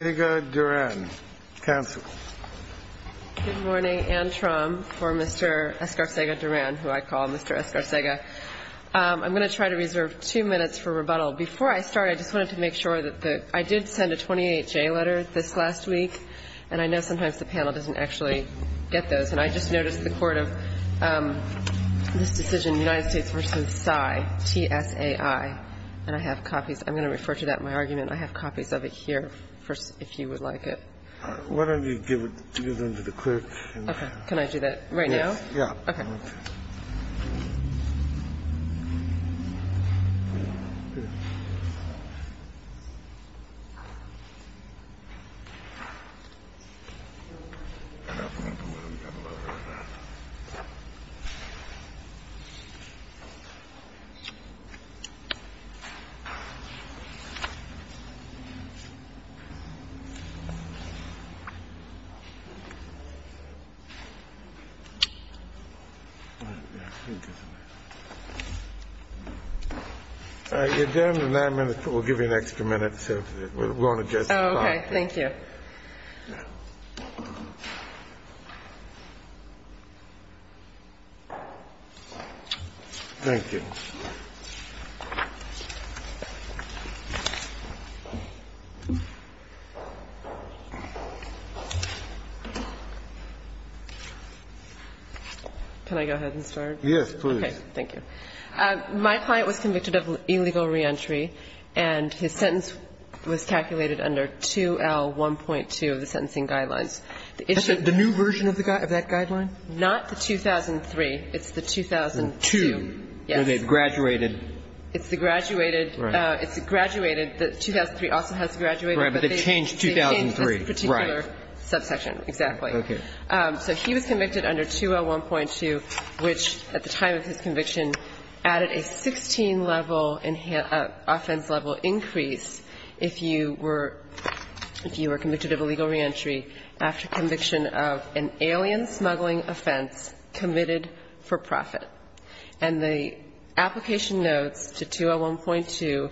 Escaarcega-Duran, counsel. Good morning. Anne Trum for Mr. Escaarcega-Duran, who I call Mr. Escaarcega. I'm going to try to reserve two minutes for rebuttal. Before I start, I just wanted to make sure that the – I did send a 28-J letter this last week, and I know sometimes the panel doesn't actually get those. And I just noticed the court of this decision, United States v. SAI, T-S-A-I, and I have copies. I'm going to refer to that in my argument. I have copies of it here, if you would like it. Why don't you give them to the clerk? Okay. Can I do that right now? Yes. Your adjournment is nine minutes, but we'll give you an extra minute if you want to just talk. Okay. Thank you. Thank you. Can I go ahead and start? Yes, please. Okay. Thank you. My client was convicted of illegal reentry, and his sentence was calculated under 2L1.2 of the sentencing guidelines. The new version of that guideline? Not the 2003. It's the 2002. Yes. So they graduated. It's the graduated. Right. It's the graduated. The 2003 also has the graduated. Right. But they changed 2003. Right. That's a particular subsection. Exactly. Okay. So he was convicted under 2L1.2, which at the time of his conviction added a 16-level offense-level increase if you were convicted of illegal reentry after conviction of an alien smuggling offense committed for profit. And the application notes to 2L1.2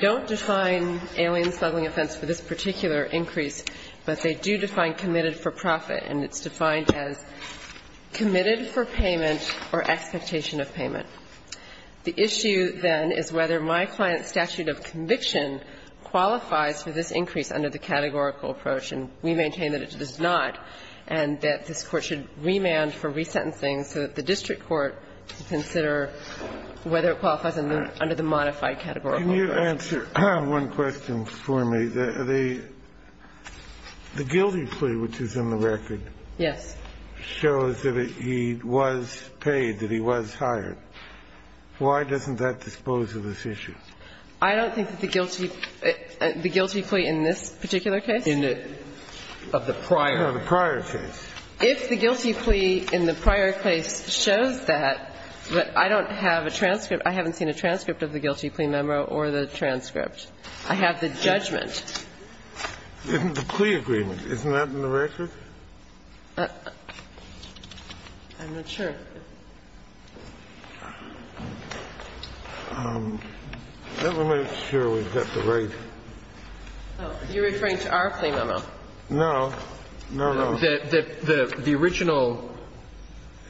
don't define alien smuggling offense for this particular increase, but they do define committed for profit, and it's defined as committed for payment or expectation of payment. The issue then is whether my client's statute of conviction qualifies for this increase under the categorical approach, and we maintain that it does not, and that this Court should remand for resentencing so that the district court can consider whether it qualifies under the modified categorical approach. Can you answer one question for me? The guilty plea, which is in the record. Yes. Shows that he was paid, that he was hired. Why doesn't that dispose of this issue? I don't think that the guilty plea in this particular case? Of the prior. Of the prior case. If the guilty plea in the prior case shows that, but I don't have a transcript I haven't seen a transcript of the guilty plea memo or the transcript. I have the judgment. Isn't the plea agreement. Isn't that in the record? I'm not sure. Let me make sure we've got the right. You're referring to our plea memo. No, no. The original.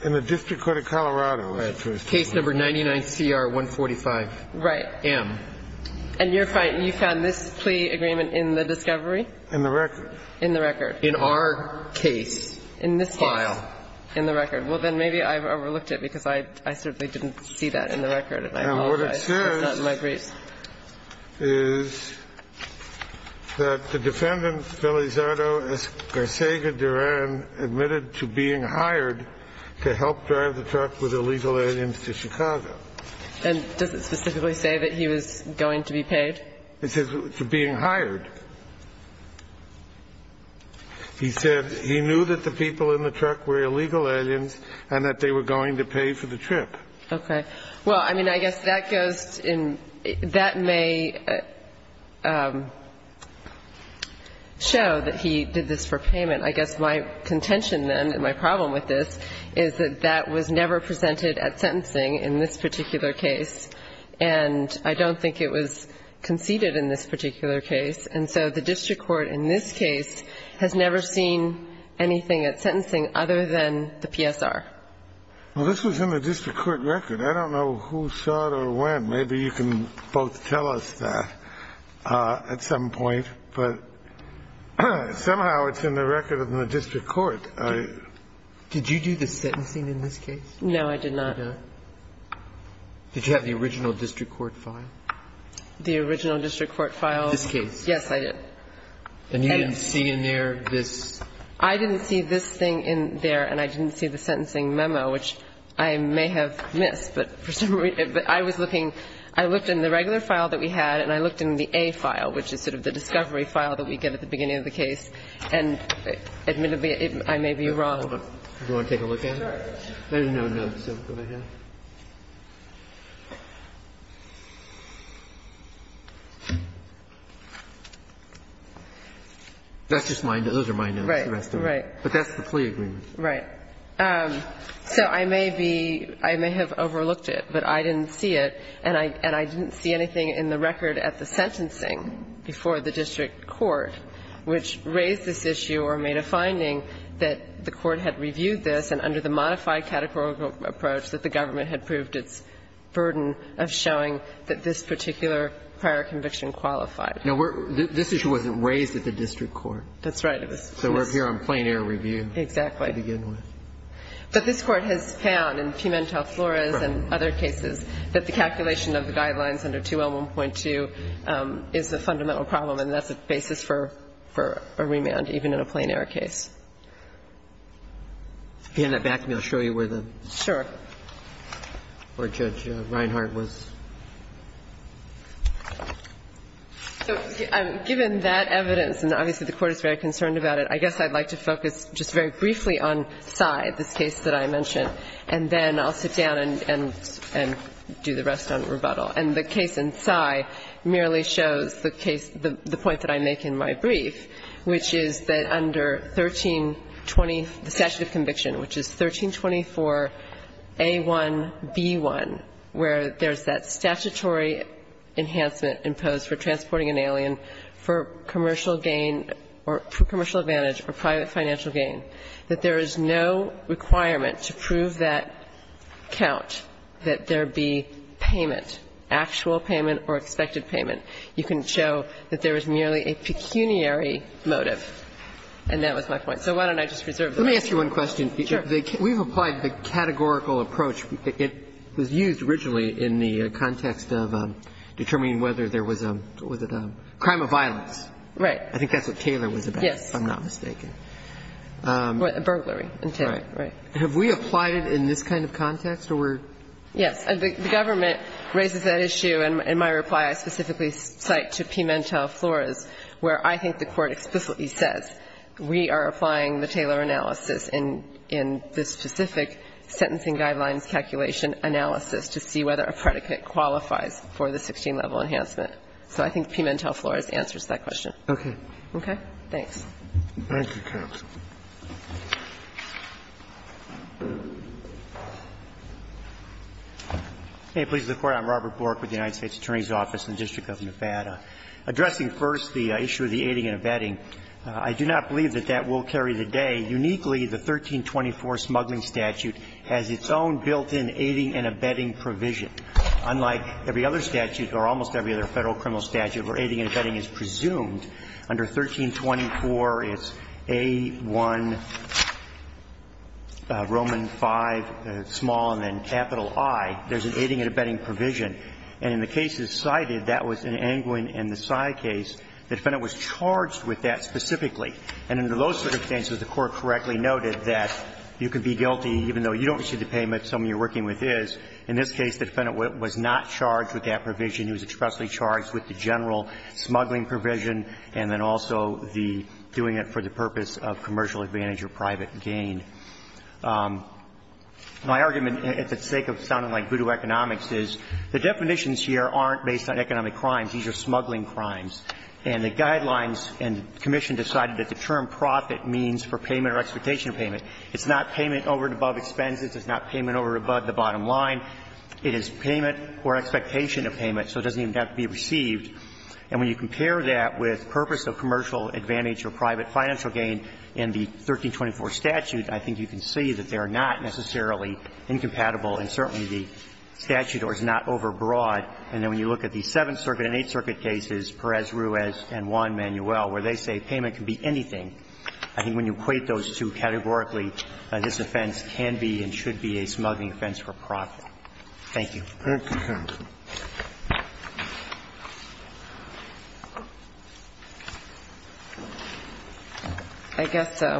In the district court of Colorado. Case number 99CR145. Right. M. And you found this plea agreement in the discovery? In the record. In the record. In our case. In this case. File. In the record. Well, then maybe I've overlooked it because I certainly didn't see that in the record. And I apologize. It's not in my briefs. And what it says is that the defendant, Felizardo Escarcega Duran, admitted to being hired to help drive the truck with illegal aliens to Chicago. And does it specifically say that he was going to be paid? It says to being hired. He said he knew that the people in the truck were illegal aliens and that they were going to pay for the trip. Okay. Well, I mean, I guess that goes in. That may show that he did this for payment. I guess my contention then and my problem with this is that that was never presented at sentencing in this particular case. And I don't think it was conceded in this particular case. And so the district court in this case has never seen anything at sentencing other than the PSR. Well, this was in the district court record. I don't know who saw it or when. Maybe you can both tell us that at some point. But somehow it's in the record of the district court. Did you do the sentencing in this case? No, I did not. You did not? Did you have the original district court file? The original district court file? This case. Yes, I did. And you didn't see in there this? I didn't see this thing in there, and I didn't see the sentencing memo, which I may have missed. But I was looking. I looked in the regular file that we had, and I looked in the A file, which is sort of the discovery file that we get at the beginning of the case. And admittedly, I may be wrong. Do you want to take a look at it? Sure. There are no notes. Go ahead. That's just my notes. Those are my notes. Right. But that's the plea agreement. Right. So I may be – I may have overlooked it, but I didn't see it. And I didn't see anything in the record at the sentencing before the district court which raised this issue or made a finding that the court had reviewed this and under the modified categorical approach that the government had proved its burden of showing that this particular prior conviction qualified. Now, this issue wasn't raised at the district court. That's right. So we're here on plain-error review. Exactly. To begin with. But this Court has found in Pimentel-Flores and other cases that the calculation of the guidelines under 2L1.2 is a fundamental problem, and that's a basis for a remand even in a plain-error case. If you hand that back to me, I'll show you where the – where Judge Reinhart was. So given that evidence, and obviously the Court is very concerned about it, I guess I'd like to focus just very briefly on Sy, this case that I mentioned. And then I'll sit down and do the rest on rebuttal. And the case in Sy merely shows the case – the point that I make in my brief, which is that under 1320, the statute of conviction, which is 1324A1B1, where there's that statutory enhancement imposed for transporting an alien for commercial gain or commercial advantage or private financial gain, that there is no requirement to prove that count, that there be payment, actual payment or expected payment. You can show that there is merely a pecuniary motive. And that was my point. So why don't I just reserve the rest? Let me ask you one question. Sure. We've applied the categorical approach. It was used originally in the context of determining whether there was a – was it a crime of violence? Right. I think that's what Taylor was about, if I'm not mistaken. Yes. Burglary. Right. Have we applied it in this kind of context? Yes. The government raises that issue. In my reply, I specifically cite to Pimentel-Flores, where I think the Court explicitly says we are applying the Taylor analysis in this specific sentencing guidelines calculation analysis to see whether a predicate qualifies for the 16-level enhancement. So I think Pimentel-Flores answers that question. Okay. Okay? Thanks. Thank you, counsel. Robert Bork with the United States Attorney's Office in the District of Nevada. Addressing first the issue of the aiding and abetting, I do not believe that that will carry the day. Uniquely, the 1324 smuggling statute has its own built-in aiding and abetting provision. Unlike every other statute, or almost every other Federal criminal statute, where aiding and abetting is presumed, under 1324, it's A-1, Roman V, small and then capital I, there's an aiding and abetting provision. And in the cases cited, that was in Angwin and the Sy case, the defendant was charged with that specifically. And under those circumstances, the Court correctly noted that you could be guilty even though you don't receive the payment, someone you're working with is. In this case, the defendant was not charged with that provision. He was expressly charged with the general smuggling provision, and then also the doing it for the purpose of commercial advantage or private gain. My argument, for the sake of sounding like voodoo economics, is the definitions here aren't based on economic crimes. These are smuggling crimes. And the guidelines and commission decided that the term profit means for payment or expectation of payment. It's not payment over and above expenses. It's not payment over and above the bottom line. It is payment or expectation of payment. So it doesn't even have to be received. And when you compare that with purpose of commercial advantage or private financial gain in the 1324 statute, I think you can see that they are not necessarily incompatible, and certainly the statute is not overbroad. And then when you look at the Seventh Circuit and Eighth Circuit cases, Perez-Ruiz and Juan Manuel, where they say payment can be anything, I think when you equate those two categorically, this offense can be and should be a smuggling offense for profit. Thank you. I guess I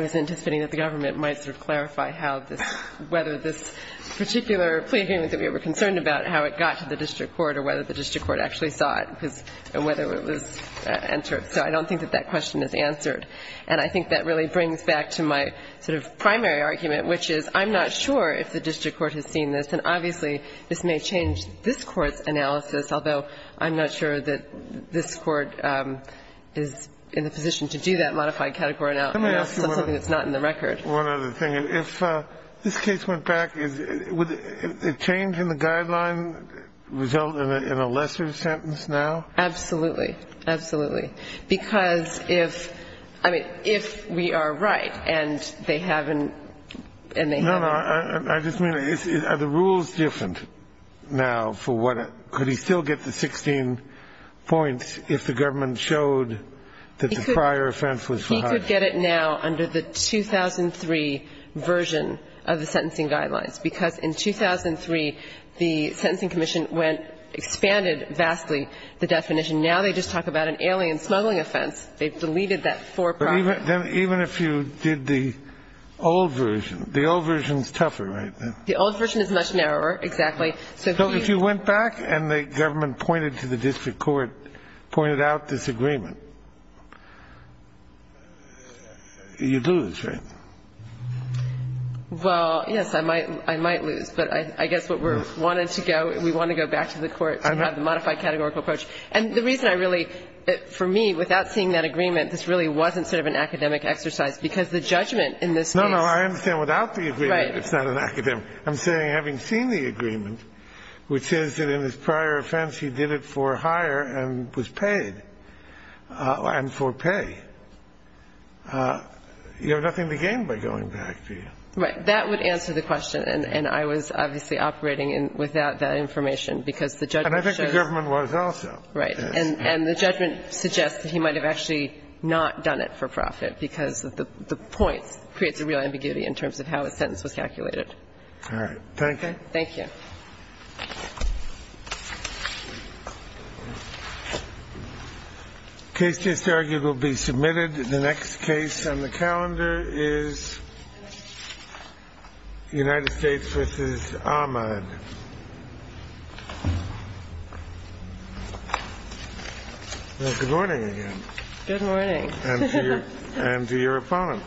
was anticipating that the government might sort of clarify how this – whether this particular plea agreement that we were concerned about, how it got to the district court or whether the district court actually saw it and whether it was entered. So I don't think that that question is answered. And I think that really brings back to my sort of primary argument, which is I'm not sure if the district court has seen this. And obviously, this may change this Court's analysis, although I'm not sure that this Court is in the position to do that modified category analysis on something that's not in the record. One other thing. If this case went back, would a change in the guideline result in a lesser sentence now? Absolutely. Absolutely. Because if – I mean, if we are right and they haven't – and they haven't – No, no. I just mean, are the rules different now for what – could he still get the 16 points if the government showed that the prior offense was for profit? He could get it now under the 2003 version of the sentencing guidelines, because in 2003, the Sentencing Commission went – expanded vastly the definition. Now they just talk about an alien smuggling offense. They've deleted that for profit. Even if you did the old version. The old version is tougher, right? The old version is much narrower, exactly. So if you went back and the government pointed to the district court, pointed out disagreement, you'd lose, right? Well, yes, I might lose. But I guess what we're wanting to go – we want to go back to the Court to have the modified categorical approach. And the reason I really – for me, without seeing that agreement, this really wasn't sort of an academic exercise, because the judgment in this case – No, no. I understand without the agreement, it's not an academic – I'm saying having seen the agreement, which is that in his prior offense, he did it for hire and was paid – and for pay. You have nothing to gain by going back, do you? Right. That would answer the question. And I was obviously operating without that information, because the judgment shows – And I think the government was also. Right. And the judgment suggests that he might have actually not done it for profit, because the points creates a real ambiguity in terms of how a sentence was calculated. All right. Thank you. Thank you. The case is argued will be submitted. The next case on the calendar is United States v. Ahmad. Good morning again. Good morning. And to your opponent.